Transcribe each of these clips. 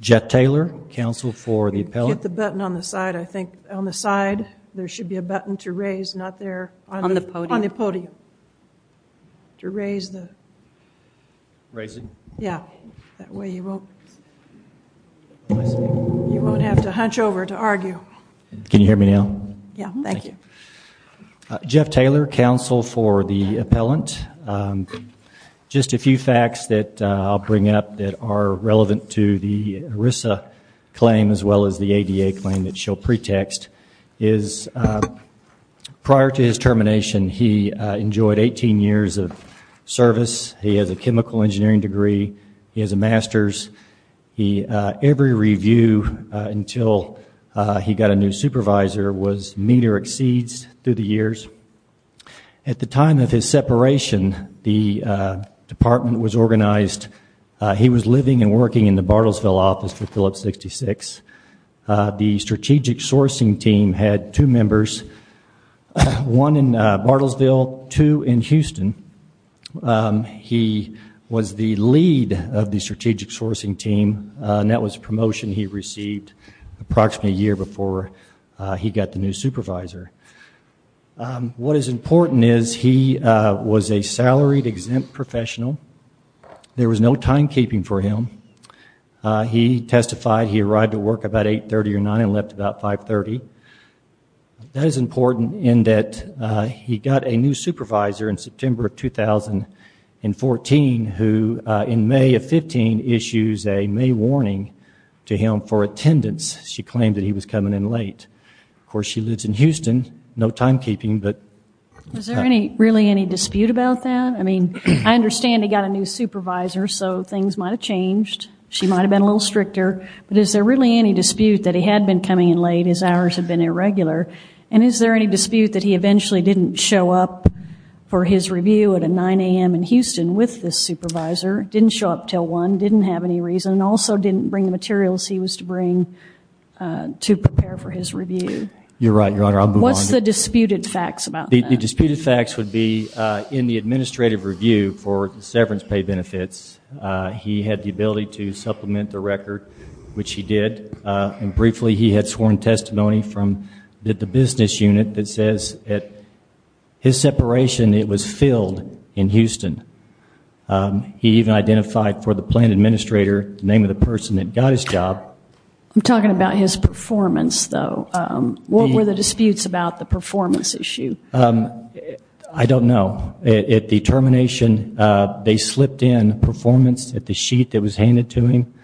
Jeff Taylor, counsel for the appellant. Jeff Taylor, counsel for the appellant. Just a few facts that I'll bring up that are relevant to the ERISA claim as well as the ADA claim that she'll pretext is prior to his termination, he enjoyed 18 years of service. He has a chemical engineering degree. He has a master's. Every review until he got a new supervisor was meter exceeds through the years. At the time of his separation, the department was organized. He was living and working in the Bartlesville office for Phillips 66. The strategic sourcing team had two members, one in Bartlesville, two in Houston. He was the lead of the strategic sourcing team, and that was a promotion he received approximately a year before he got the new supervisor. What is important is he was a salaried exempt professional. There was no timekeeping for him. He testified he arrived at work about 8.30 or 9 and left about 5.30. That is important in that he got a new supervisor in September of 2014 who, in May of 15, issued a May warning to him for attendance. She claimed that he was coming in late. Of course, she lives in Houston, no timekeeping. Is there really any dispute about that? I understand he got a new supervisor, so things might have changed. She might have been a little stricter, but is there really any dispute that he had been coming in late, his hours had been irregular, and is there any dispute that he eventually didn't show up for his review at 9 a.m. in Houston with the supervisor, didn't show up until 1, didn't have any reason, and also didn't bring the materials he was to bring to prepare for his review? You're right, Your Honor. What's the disputed facts about that? The disputed facts would be in the administrative review for the severance pay benefits. He had the ability to supplement the record, which he did, and briefly he had sworn testimony from the business unit that says at his separation it was filled in Houston. He even identified for the plan administrator the name of the person that got his job. I'm talking about his performance, though. What were the disputes about the performance issue? I don't know. At the termination, they slipped in performance at the sheet that was handed to him.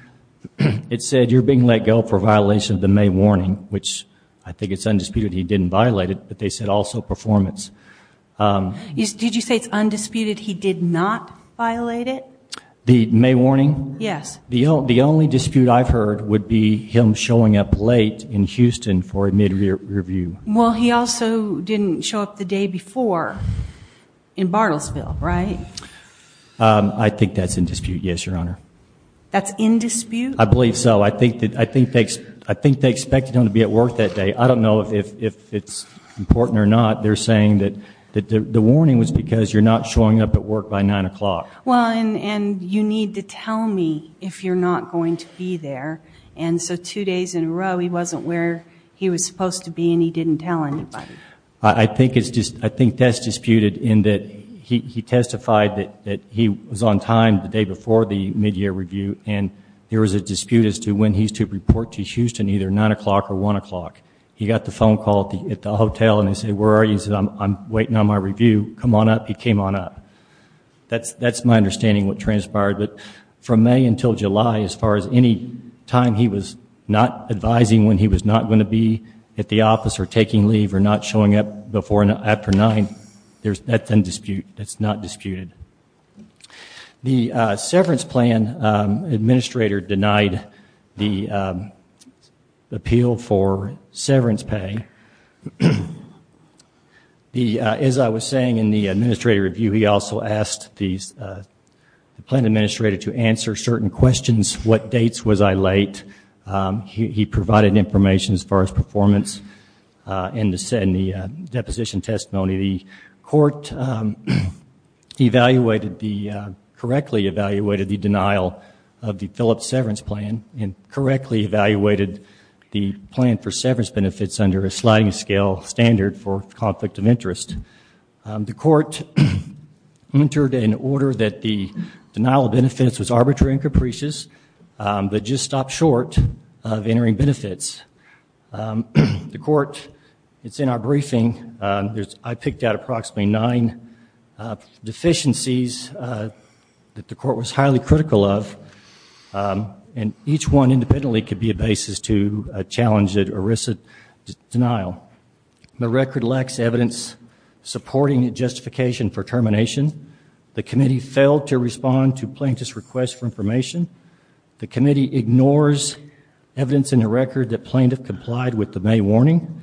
It said you're being let go for violation of the May warning, which I think it's undisputed he didn't violate it, but they said also performance. Did you say it's undisputed he did not violate it? The May warning? Yes. The only dispute I've heard would be him showing up late in Houston for a mid-review. Well, he also didn't show up the day before in Bartlesville, right? I think that's in dispute, yes, Your Honor. That's in dispute? I believe so. I think they expected him to be at work that day. I don't know if it's important or not. They're saying that the warning was because you're not showing up at work by 9 o'clock. Well, and you need to tell me if you're not going to be there, and so two days in a row he wasn't where he was supposed to be and he didn't tell anybody. I think that's disputed in that he testified that he was on time the day before the mid-year review, and there was a dispute as to when he's to report to Houston, either 9 o'clock or 1 o'clock. He got the phone call at the hotel and they said, where are you? He said, I'm waiting on my review. Come on up. He came on up. That's my understanding of what transpired. But from May until July, as far as any time he was not advising when he was not going to be at the office or taking leave or not showing up after 9, that's in dispute. That's not disputed. The severance plan administrator denied the appeal for severance pay. As I was saying in the administrative review, he also asked the plan administrator to answer certain questions. What dates was I late? He provided information as far as performance in the deposition testimony. The court correctly evaluated the denial of the Phillips severance plan and correctly evaluated the plan for severance benefits under a sliding scale standard for conflict of interest. The court entered an order that the denial of benefits was arbitrary and capricious, but just stopped short of entering benefits. The court, it's in our briefing. I picked out approximately nine deficiencies that the court was highly critical of, and each one independently could be a basis to challenge it or risk a denial. The record lacks evidence supporting justification for termination. The committee failed to respond to plaintiff's request for information. The committee ignores evidence in the record that plaintiff complied with the May warning.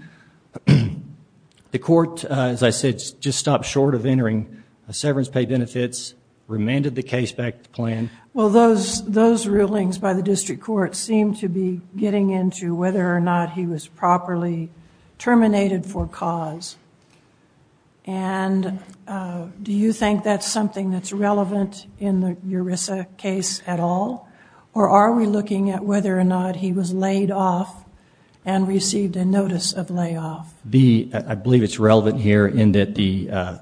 The court, as I said, just stopped short of entering severance pay benefits, remanded the case back to the plan. Well, those rulings by the district court seemed to be getting into whether or not he was properly terminated for cause. And do you think that's something that's relevant in the ERISA case at all, or are we looking at whether or not he was laid off and received a notice of layoff? I believe it's relevant here in that the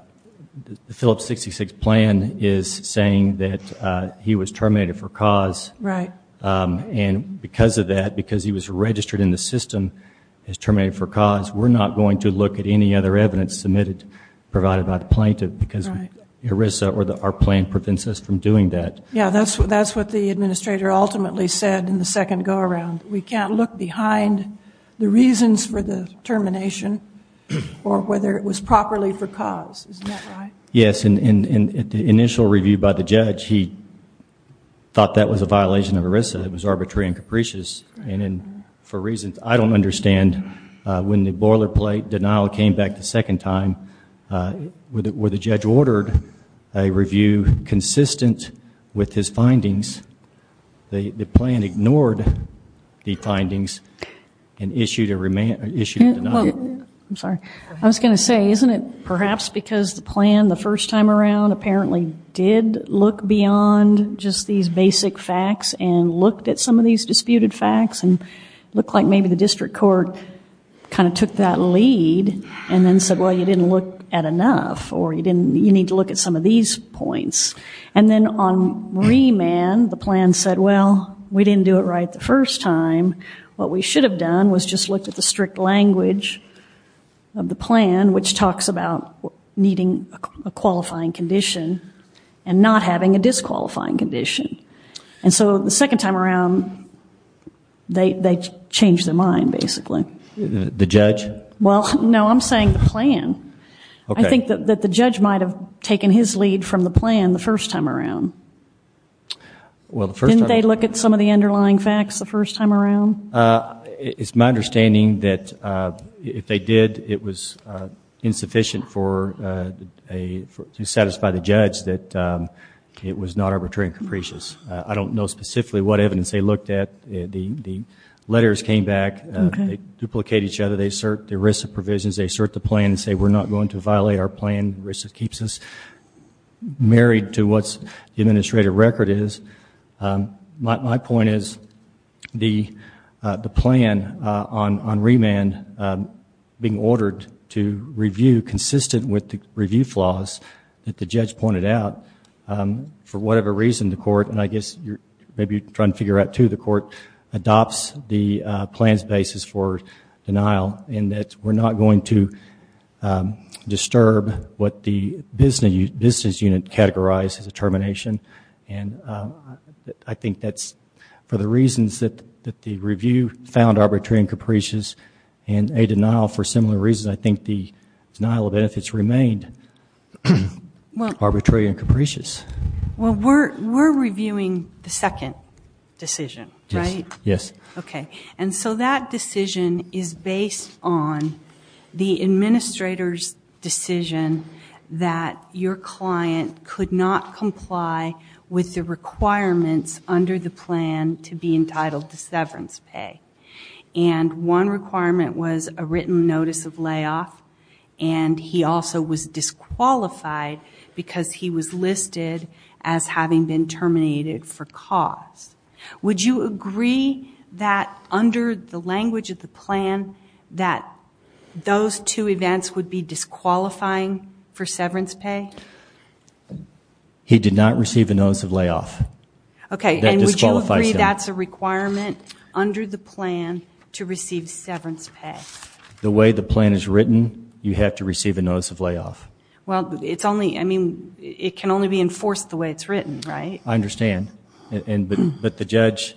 Phillips 66 plan is saying that he was terminated for cause. Right. And because of that, because he was registered in the system as terminated for cause, we're not going to look at any other evidence submitted, provided by the plaintiff, because ERISA or our plan prevents us from doing that. Yeah, that's what the administrator ultimately said in the second go-around. We can't look behind the reasons for the termination or whether it was properly for cause. Isn't that right? Yes, and at the initial review by the judge, he thought that was a violation of ERISA. It was arbitrary and capricious. And for reasons I don't understand, when the boilerplate denial came back the second time, where the judge ordered a review consistent with his findings, the plan ignored the findings and issued a denial. I'm sorry. I was going to say, isn't it perhaps because the plan the first time around apparently did look beyond just these basic facts and looked at some of these disputed facts and looked like maybe the district court kind of took that lead and then said, well, you didn't look at enough or you need to look at some of these points. And then on remand, the plan said, well, we didn't do it right the first time. What we should have done was just looked at the strict language of the plan, which talks about needing a qualifying condition and not having a disqualifying condition. And so the second time around, they changed their mind, basically. The judge? Well, no, I'm saying the plan. I think that the judge might have taken his lead from the plan the first time around. Didn't they look at some of the underlying facts the first time around? It's my understanding that if they did, it was insufficient to satisfy the judge that it was not arbitrary and capricious. I don't know specifically what evidence they looked at. The letters came back. They duplicate each other. They assert the ERISA provisions. They assert the plan and say, we're not going to violate our plan. ERISA keeps us married to what the administrative record is. My point is the plan on remand being ordered to review consistent with the review flaws that the judge pointed out, for whatever reason the court, and I guess maybe you're trying to figure out, too, the court adopts the plan's basis for denial in that we're not going to disturb what the business unit categorized as a termination. I think that's for the reasons that the review found arbitrary and capricious, and a denial for similar reasons. I think the denial of benefits remained arbitrary and capricious. Well, we're reviewing the second decision, right? Yes. Okay, and so that decision is based on the administrator's decision that your client could not comply with the requirements under the plan to be entitled to severance pay. And one requirement was a written notice of layoff, and he also was disqualified because he was listed as having been terminated for cause. Would you agree that, under the language of the plan, that those two events would be disqualifying for severance pay? He did not receive a notice of layoff. Okay, and would you agree that's a requirement under the plan to receive severance pay? The way the plan is written, you have to receive a notice of layoff. Well, it can only be enforced the way it's written, right? I understand. But the judge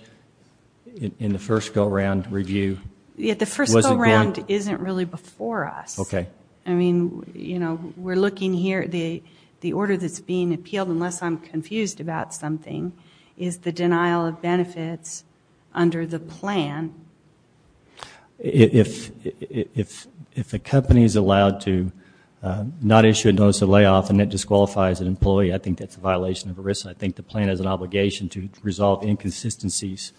in the first go-around review wasn't going to? Yeah, the first go-around isn't really before us. Okay. I mean, you know, we're looking here. The order that's being appealed, unless I'm confused about something, is the denial of benefits under the plan. If a company is allowed to not issue a notice of layoff and it disqualifies an employee, I think that's a violation of a risk. I think the plan has an obligation to resolve inconsistencies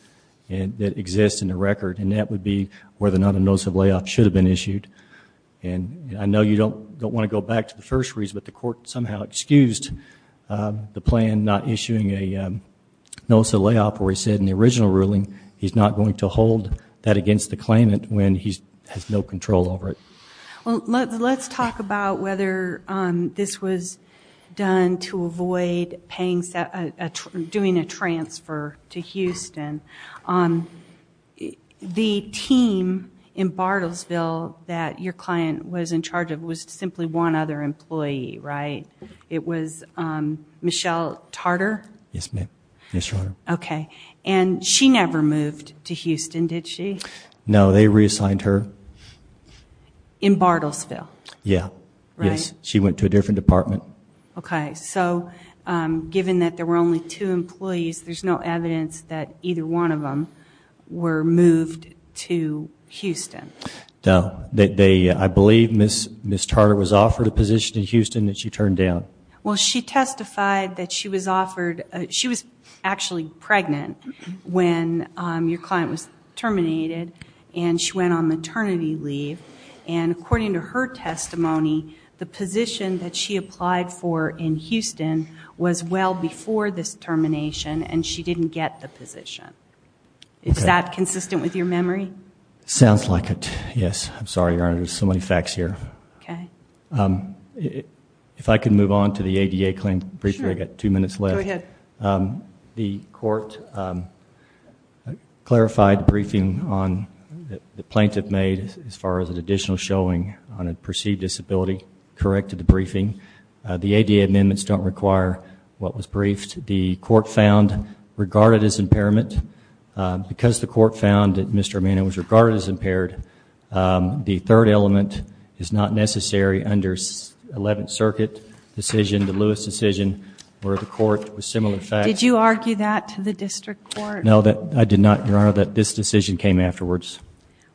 that exist in the record, and that would be whether or not a notice of layoff should have been issued. And I know you don't want to go back to the first reason, but the court somehow excused the plan not issuing a notice of layoff where he said in the original ruling he's not going to hold that against the claimant when he has no control over it. Let's talk about whether this was done to avoid doing a transfer to Houston. The team in Bartlesville that your client was in charge of was simply one other employee, right? It was Michelle Tarter? Yes, ma'am. Yes, your Honor. Okay. And she never moved to Houston, did she? No, they reassigned her. In Bartlesville? Yeah. Yes, she went to a different department. Okay. So given that there were only two employees, there's no evidence that either one of them were moved to Houston? No. I believe Ms. Tarter was offered a position in Houston that she turned down. Well, she testified that she was actually pregnant when your client was terminated, and she went on maternity leave, and according to her testimony, the position that she applied for in Houston was well before this termination, and she didn't get the position. Is that consistent with your memory? Sounds like it, yes. I'm sorry, your Honor. There's so many facts here. Okay. If I could move on to the ADA claim briefing. I've got two minutes left. Go ahead. The court clarified the briefing that the plaintiff made as far as an additional showing on a perceived disability, corrected the briefing. The ADA amendments don't require what was briefed. The court found regarded as impairment. Because the court found that Mr. Amano was regarded as impaired, the third element is not necessary under 11th Circuit decision, the Lewis decision, where the court was similar facts. Did you argue that to the district court? No, I did not, your Honor, that this decision came afterwards.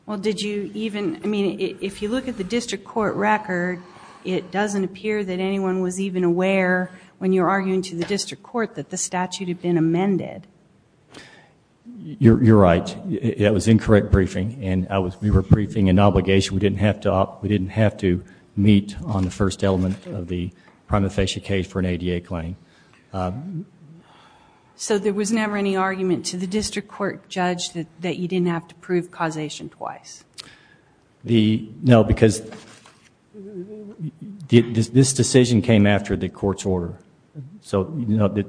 Well, did you even, I mean, if you look at the district court record, it doesn't appear that anyone was even aware when you were arguing to the district court that the statute had been amended. You're right. That was incorrect briefing, and we were briefing an obligation. We didn't have to meet on the first element of the prima facie case for an ADA claim. So there was never any argument to the district court judge that you didn't have to prove causation twice? No, because this decision came after the court's order. So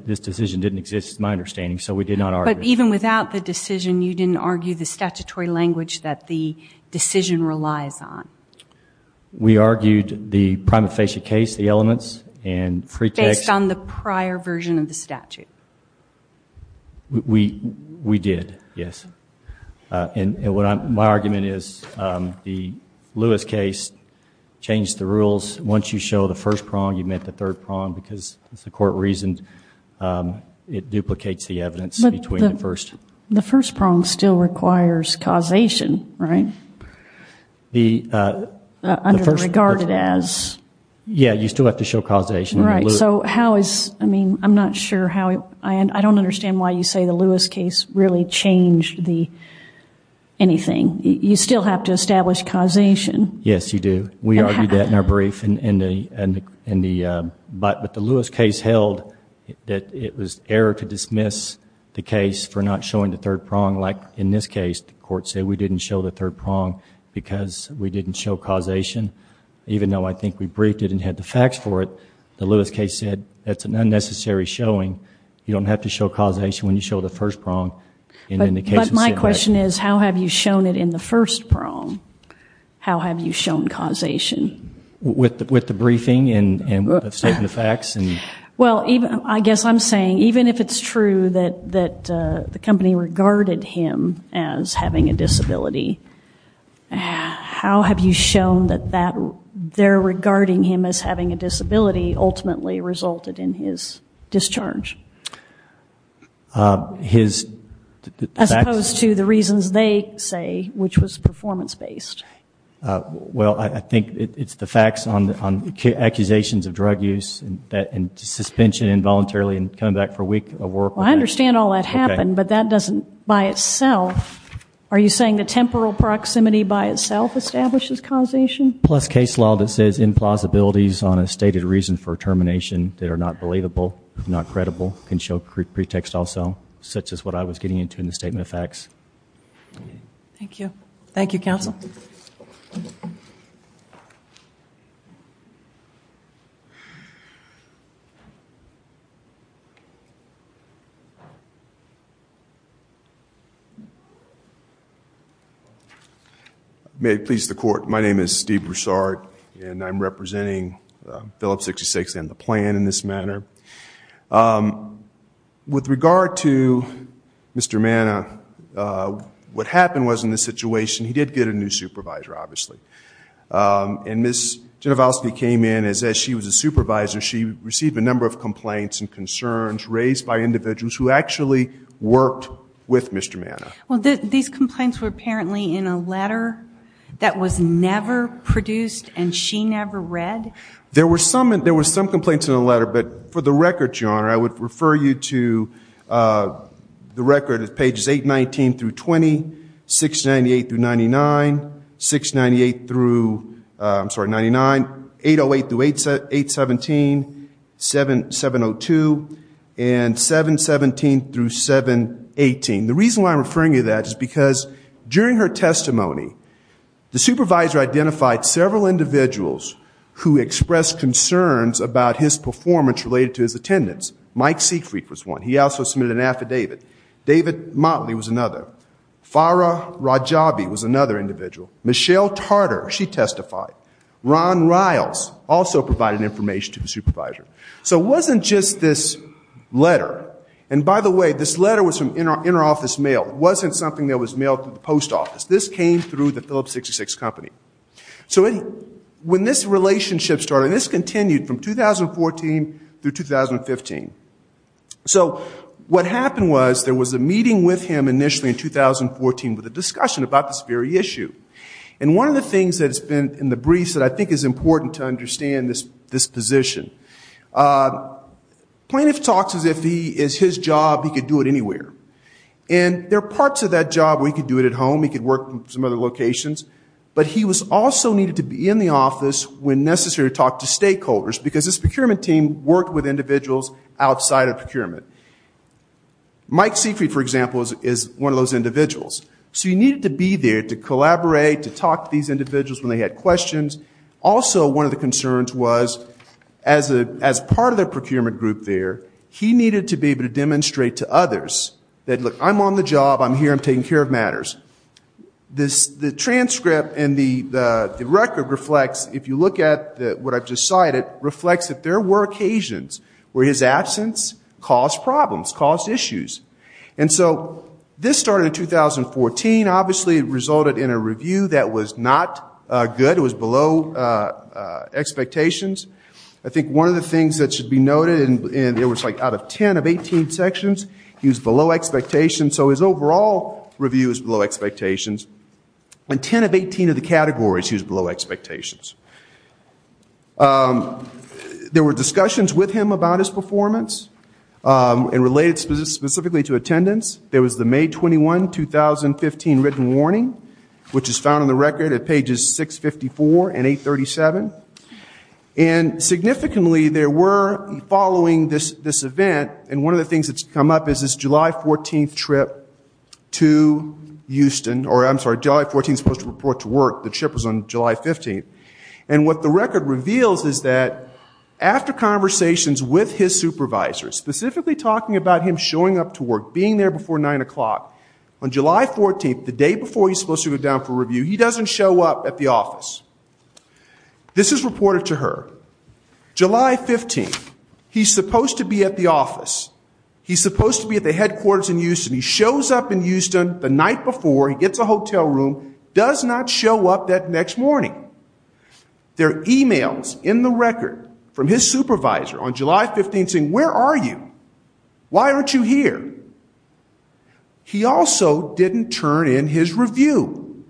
this decision didn't exist, my understanding, so we did not argue. But even without the decision, you didn't argue the statutory language that the decision relies on? We argued the prima facie case, the elements, and free text. Based on the prior version of the statute? We did, yes. And my argument is the Lewis case changed the rules. Once you show the first prong, you met the third prong, because as the court reasoned, it duplicates the evidence between the first. The first prong still requires causation, right? Under the regarded as. Yeah, you still have to show causation. So how is, I mean, I'm not sure how, I don't understand why you say the Lewis case really changed anything. You still have to establish causation. Yes, you do. We argued that in our brief. But the Lewis case held that it was error to dismiss the case for not showing the third prong, like in this case the court said we didn't show the third prong because we didn't show causation, even though I think we briefed it and had the facts for it. The Lewis case said that's an unnecessary showing. You don't have to show causation when you show the first prong. But my question is how have you shown it in the first prong? How have you shown causation? With the briefing and the statement of facts? Well, I guess I'm saying even if it's true that the company regarded him as having a disability, how have you shown that their regarding him as having a disability ultimately resulted in his discharge? His facts? As opposed to the reasons they say, which was performance-based. Well, I think it's the facts on accusations of drug use and suspension involuntarily and coming back for a week of work. I understand all that happened, but that doesn't by itself, are you saying the temporal proximity by itself establishes causation? Plus case law that says implausibilities on a stated reason for termination that are not believable, not credible, can show pretext also, such as what I was getting into in the statement of facts. Thank you. Thank you, counsel. May it please the court, my name is Steve Broussard, and I'm representing Phillips 66 and the plan in this matter. With regard to Mr. Mana, what happened was in this situation, he did get a new supervisor, obviously. And Ms. Genovoski came in and said she was a supervisor. She received a number of complaints and concerns raised by individuals who actually worked with Mr. Mana. Well, these complaints were apparently in a letter that was never produced and she never read? There were some complaints in the letter, but for the record, Your Honor, I would refer you to the record at pages 819 through 20, 698 through 99, 698 through, I'm sorry, 99, 808 through 817, 702, and 717 through 718. The reason why I'm referring you to that is because during her testimony, the supervisor identified several individuals who expressed concerns about his performance related to his attendance. Mike Siegfried was one. He also submitted an affidavit. David Motley was another. Farah Rajabi was another individual. Michelle Tarter, she testified. Ron Riles also provided information to the supervisor. So it wasn't just this letter. And by the way, this letter was from interoffice mail. It wasn't something that was mailed to the post office. This came through the Phillips 66 Company. So when this relationship started, and this continued from 2014 through 2015, so what happened was there was a meeting with him initially in 2014 with a discussion about this very issue. And one of the things that has been in the briefs that I think is important to understand this position, plaintiff talks as if his job, he could do it anywhere. And there are parts of that job where he could do it at home. He could work in some other locations. But he also needed to be in the office when necessary to talk to stakeholders because his procurement team worked with individuals outside of procurement. Mike Siegfried, for example, is one of those individuals. So he needed to be there to collaborate, to talk to these individuals when they had questions. Also, one of the concerns was as part of the procurement group there, he needed to be able to demonstrate to others that, look, I'm on the job. I'm here. I'm taking care of matters. The transcript and the record reflects, if you look at what I've just cited, reflects that there were occasions where his absence caused problems, caused issues. And so this started in 2014. Obviously, it resulted in a review that was not good. It was below expectations. I think one of the things that should be noted, and it was like out of 10 of 18 sections, he was below expectations. So his overall review is below expectations. In 10 of 18 of the categories, he was below expectations. There were discussions with him about his performance and related specifically to attendance. There was the May 21, 2015 written warning, which is found on the record at pages 654 and 837. And significantly, there were, following this event, and one of the things that's come up is this July 14th trip to Houston, or I'm sorry, July 14th supposed to report to work. The trip was on July 15th. And what the record reveals is that after conversations with his supervisor, specifically talking about him showing up to work, being there before 9 o'clock, on July 14th, the day before he's supposed to go down for review, he doesn't show up at the office. This is reported to her. July 15th, he's supposed to be at the office. He's supposed to be at the headquarters in Houston. He shows up in Houston the night before. He gets a hotel room, does not show up that next morning. There are e-mails in the record from his supervisor on July 15th saying, where are you? Why aren't you here? He also didn't turn in his review.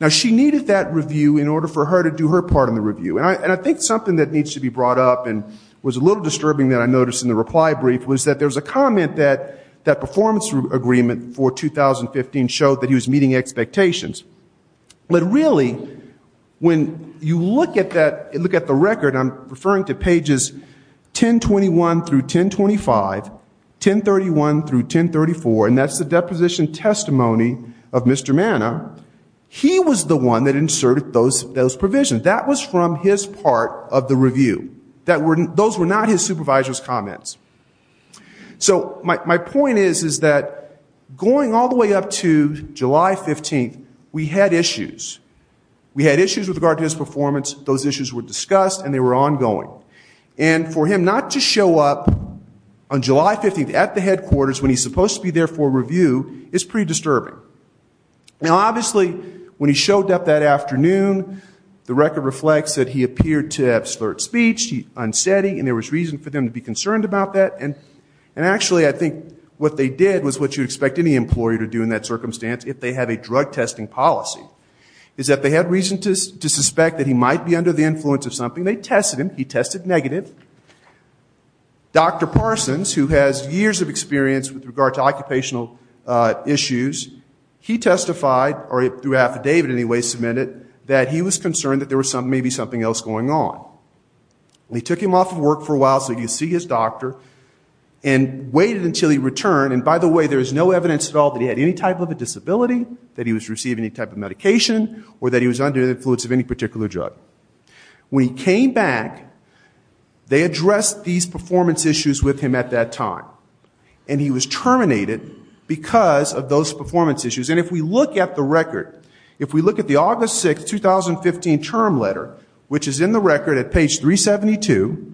Now, she needed that review in order for her to do her part in the review. And I think something that needs to be brought up and was a little disturbing that I noticed in the reply brief was that there was a comment that that performance agreement for 2015 showed that he was meeting expectations. But really, when you look at the record, I'm referring to pages 1021 through 1025, 1031 through 1034, and that's the deposition testimony of Mr. Mana, he was the one that inserted those provisions. That was from his part of the review. So my point is that going all the way up to July 15th, we had issues. We had issues with regard to his performance. Those issues were discussed, and they were ongoing. And for him not to show up on July 15th at the headquarters when he's supposed to be there for a review is pretty disturbing. Now, obviously, when he showed up that afternoon, the record reflects that he appeared to have slurred speech, he unsaid he, and there was reason for them to be concerned about that. And actually, I think what they did was what you'd expect any employer to do in that circumstance if they had a drug testing policy, is that they had reason to suspect that he might be under the influence of something. They tested him. He tested negative. Dr. Parsons, who has years of experience with regard to occupational issues, he testified, or through affidavit anyway, submitted that he was concerned that there was maybe something else going on. And they took him off of work for a while so he could see his doctor and waited until he returned. And by the way, there is no evidence at all that he had any type of a disability, that he was receiving any type of medication, or that he was under the influence of any particular drug. When he came back, they addressed these performance issues with him at that time. And he was terminated because of those performance issues. And if we look at the record, if we look at the August 6, 2015 term letter, which is in the record at page 372,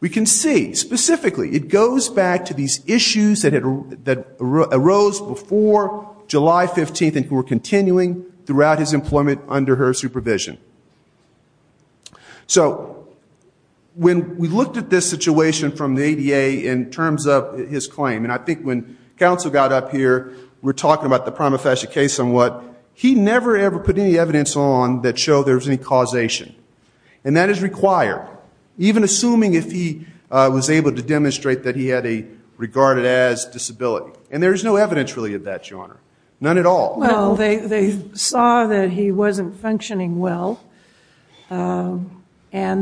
we can see specifically it goes back to these issues that arose before July 15th and were continuing throughout his employment under her supervision. So when we looked at this situation from the ADA in terms of his claim, and I think when counsel got up here, we were talking about the Prima Facie case somewhat, he never ever put any evidence on that showed there was any causation. And that is required, even assuming if he was able to demonstrate that he had a regarded as disability. And there is no evidence really of that, Your Honor. None at all. Well, they saw that he wasn't functioning well, and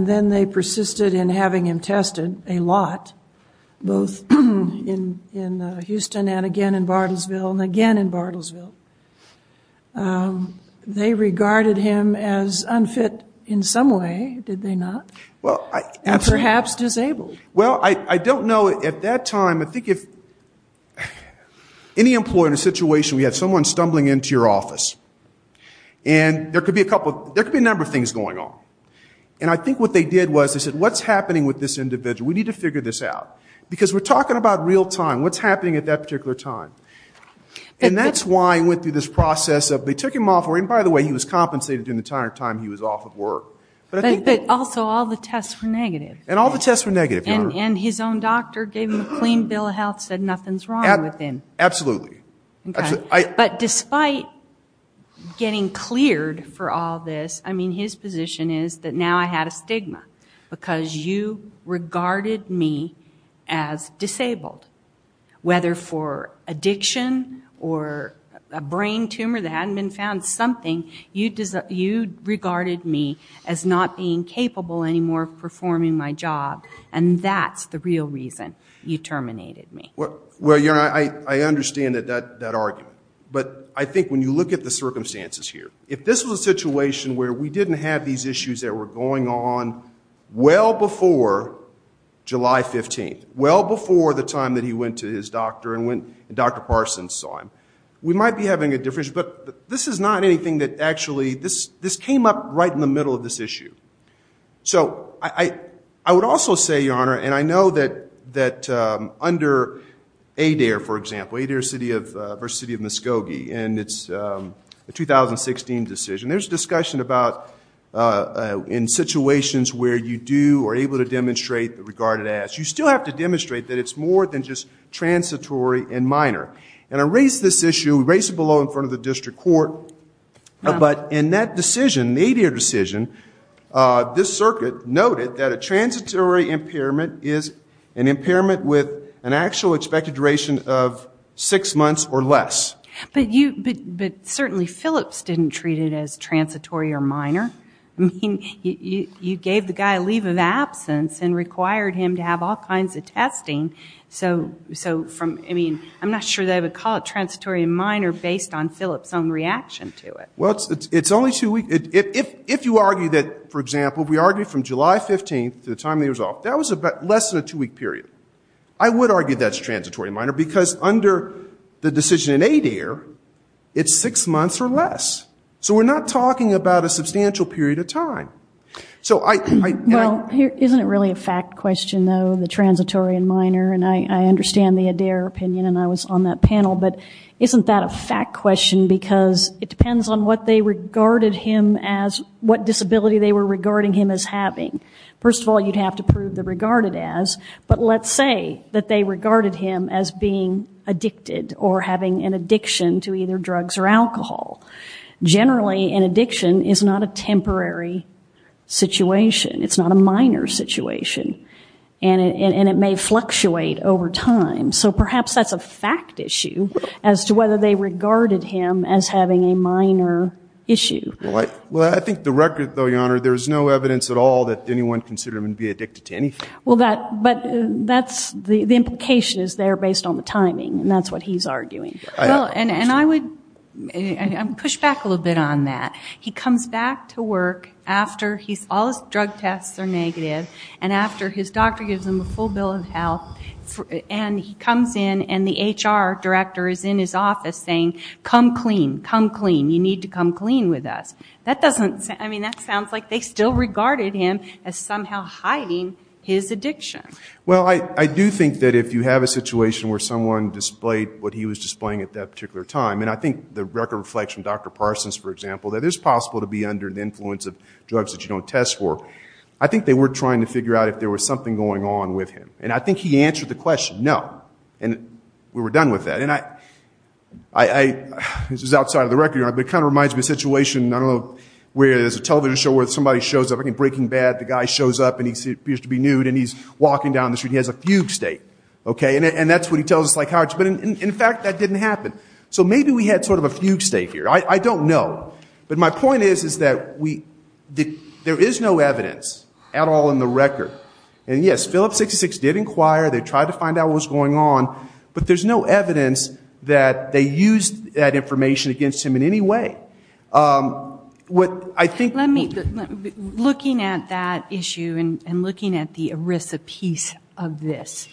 then they persisted in having him tested a lot, both in Houston and again in Bartlesville, and again in Bartlesville. They regarded him as unfit in some way, did they not? And perhaps disabled. Well, I don't know at that time. I think if any employer in a situation where you have someone stumbling into your office, and there could be a number of things going on. And I think what they did was they said, what's happening with this individual? We need to figure this out. Because we're talking about real time. What's happening at that particular time? And that's why I went through this process of they took him off. And by the way, he was compensated during the entire time he was off of work. But also all the tests were negative. And all the tests were negative, Your Honor. And his own doctor gave him a clean bill of health, said nothing's wrong with him. Absolutely. But despite getting cleared for all this, I mean, his position is that now I had a stigma because you regarded me as disabled. Whether for addiction or a brain tumor that hadn't been found, something, you regarded me as not being capable anymore of performing my job. And that's the real reason you terminated me. Well, Your Honor, I understand that argument. But I think when you look at the circumstances here, if this was a situation where we didn't have these issues that were going on well before July 15th, well before the time that he went to his doctor and Dr. Parsons saw him, we might be having a difference. But this is not anything that actually – this came up right in the middle of this issue. So I would also say, Your Honor, and I know that under Adair, for example, Adair v. City of Muskogee, and it's a 2016 decision. There's discussion about in situations where you do or are able to demonstrate regarded as. You still have to demonstrate that it's more than just transitory and minor. And I raise this issue, raise it below in front of the district court. But in that decision, the Adair decision, this circuit noted that a transitory impairment is an impairment with an actual expected duration of six months or less. But you – but certainly Phillips didn't treat it as transitory or minor. I mean, you gave the guy a leave of absence and required him to have all kinds of testing. So from – I mean, I'm not sure that I would call it transitory and minor based on Phillips' own reaction to it. Well, it's only two weeks. If you argue that, for example, we argue from July 15th to the time that he was off, that was less than a two-week period. I would argue that's transitory and minor because under the decision in Adair, it's six months or less. Well, isn't it really a fact question, though, the transitory and minor? And I understand the Adair opinion, and I was on that panel. But isn't that a fact question because it depends on what they regarded him as – what disability they were regarding him as having. First of all, you'd have to prove the regarded as. But let's say that they regarded him as being addicted or having an addiction to either drugs or alcohol. Generally, an addiction is not a temporary situation. It's not a minor situation. And it may fluctuate over time. So perhaps that's a fact issue as to whether they regarded him as having a minor issue. Well, I think the record, though, Your Honor, there's no evidence at all that anyone considered him to be addicted to anything. Well, that – but that's – the implication is there based on the timing, and that's what he's arguing. Well, and I would push back a little bit on that. He comes back to work after he's – all his drug tests are negative, and after his doctor gives him a full bill of health, and he comes in and the HR director is in his office saying, come clean, come clean, you need to come clean with us. That doesn't – I mean, that sounds like they still regarded him as somehow hiding his addiction. Well, I do think that if you have a situation where someone displayed what he was displaying at that particular time, and I think the record reflects from Dr. Parsons, for example, that it's possible to be under the influence of drugs that you don't test for. I think they were trying to figure out if there was something going on with him. And I think he answered the question, no, and we were done with that. And I – this is outside of the record, Your Honor, but it kind of reminds me of a situation, I don't know, where there's a television show where somebody shows up, I think Breaking Bad, the guy shows up and he appears to be nude and he's walking down the street and he has a fugue state, okay? And that's what he tells us, but in fact that didn't happen. So maybe we had sort of a fugue state here. I don't know. But my point is, is that we – there is no evidence at all in the record. And yes, Phillips 66 did inquire, they tried to find out what was going on, but there's no evidence that they used that information against him in any way. What I think – Let me – looking at that issue and looking at the ERISA piece of this,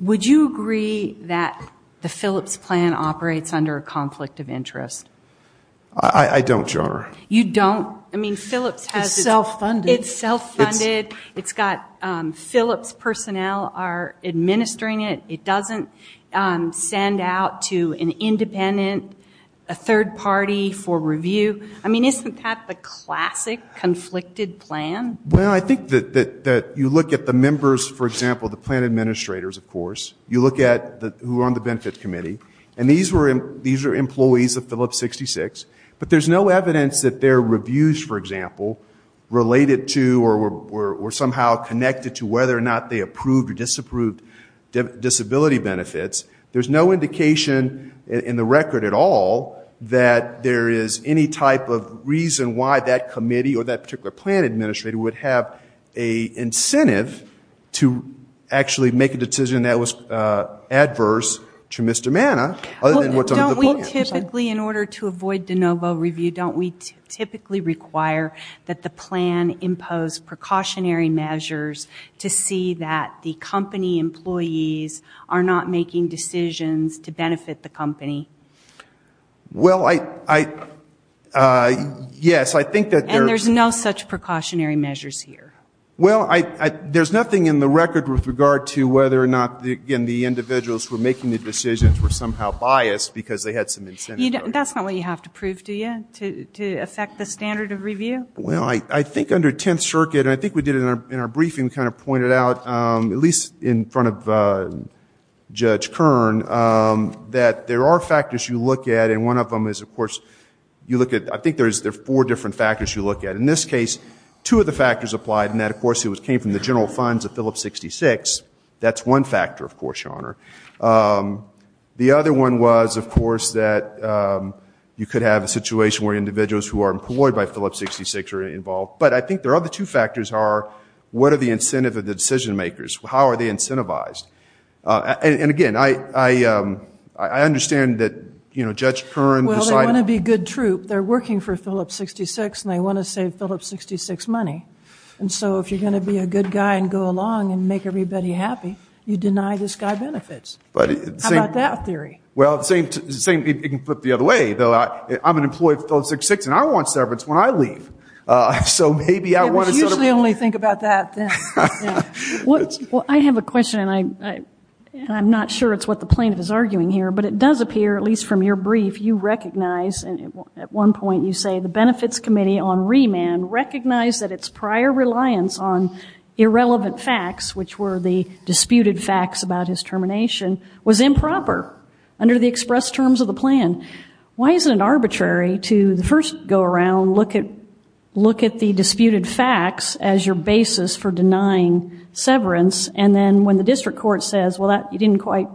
would you agree that the Phillips plan operates under a conflict of interest? I don't, Your Honor. You don't? I mean, Phillips has – It's self-funded. It's self-funded. It's got Phillips personnel are administering it. It doesn't send out to an independent, a third party for review. I mean, isn't that the classic conflicted plan? Well, I think that you look at the members, for example, the plan administrators, of course, you look at who are on the benefit committee, and these are employees of Phillips 66, but there's no evidence that their reviews, for example, related to or somehow connected to whether or not they approved or disapproved disability benefits. There's no indication in the record at all that there is any type of reason why that committee or that particular plan administrator would have an incentive to actually make a decision that was adverse to Mr. Mana other than what's under the plan. Don't we typically, in order to avoid de novo review, don't we typically require that the plan impose precautionary measures to see that the company employees are not making decisions to benefit the company? Well, I – yes, I think that there – And there's no such precautionary measures here. Well, there's nothing in the record with regard to whether or not, again, the individuals who are making the decisions were somehow biased because they had some incentive. That's not what you have to prove, do you, to affect the standard of review? Well, I think under Tenth Circuit, and I think we did it in our briefing, we kind of pointed out, at least in front of Judge Kern, that there are factors you look at, and one of them is, of course, you look at – I think there are four different factors you look at. In this case, two of the factors applied, and that, of course, came from the general funds of Phillips 66. That's one factor, of course, Your Honor. The other one was, of course, that you could have a situation where individuals who are employed by Phillips 66 are involved. But I think there are the two factors are, what are the incentive of the decision makers? How are they incentivized? And, again, I understand that, you know, Judge Kern decided – Well, they want to be a good troop. They're working for Phillips 66, and they want to save Phillips 66 money. And so if you're going to be a good guy and go along and make everybody happy, you deny this guy benefits. How about that theory? Well, it's the same – you can put it the other way, though. I'm an employee of Phillips 66, and I want severance when I leave. So maybe I want to sort of – You usually only think about that then. Well, I have a question, and I'm not sure it's what the plaintiff is arguing here, but it does appear, at least from your brief, you recognize – at one point you say the Benefits Committee on remand recognized that its prior reliance on irrelevant facts, which were the disputed facts about his termination, was improper under the express terms of the plan. Why is it arbitrary to first go around, look at the disputed facts as your basis for denying severance, and then when the district court says, well, you didn't quite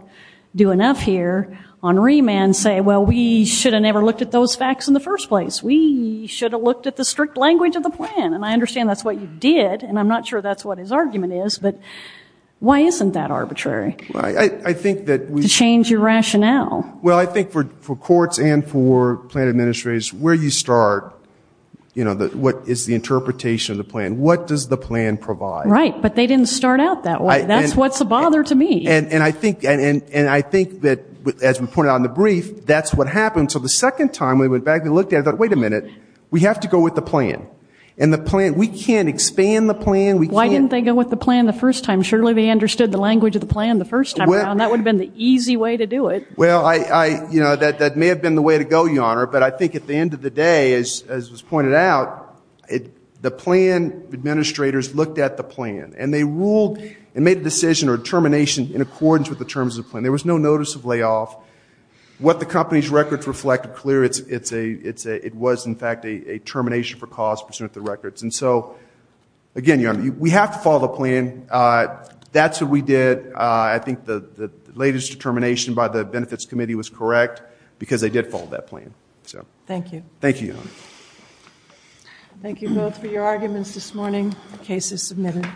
do enough here on remand, say, well, we should have never looked at those facts in the first place. We should have looked at the strict language of the plan, and I understand that's what you did, and I'm not sure that's what his argument is, but why isn't that arbitrary to change your rationale? Well, I think for courts and for plan administrators, where you start, what is the interpretation of the plan, what does the plan provide? Right, but they didn't start out that way. That's what's a bother to me. And I think that, as we pointed out in the brief, that's what happened. So the second time we went back and looked at it, we thought, wait a minute, we have to go with the plan, and we can't expand the plan. Why didn't they go with the plan the first time? Surely they understood the language of the plan the first time around. That would have been the easy way to do it. Well, that may have been the way to go, Your Honor, but I think at the end of the day, as was pointed out, the plan administrators looked at the plan, and they ruled and made a decision or determination in accordance with the terms of the plan. There was no notice of layoff. What the company's records reflect are clear. It was, in fact, a termination for cause pursuant to the records. And so, again, Your Honor, we have to follow the plan. That's what we did. I think the latest determination by the Benefits Committee was correct because they did follow that plan. Thank you. Thank you, Your Honor. Thank you both for your arguments this morning. The case is submitted.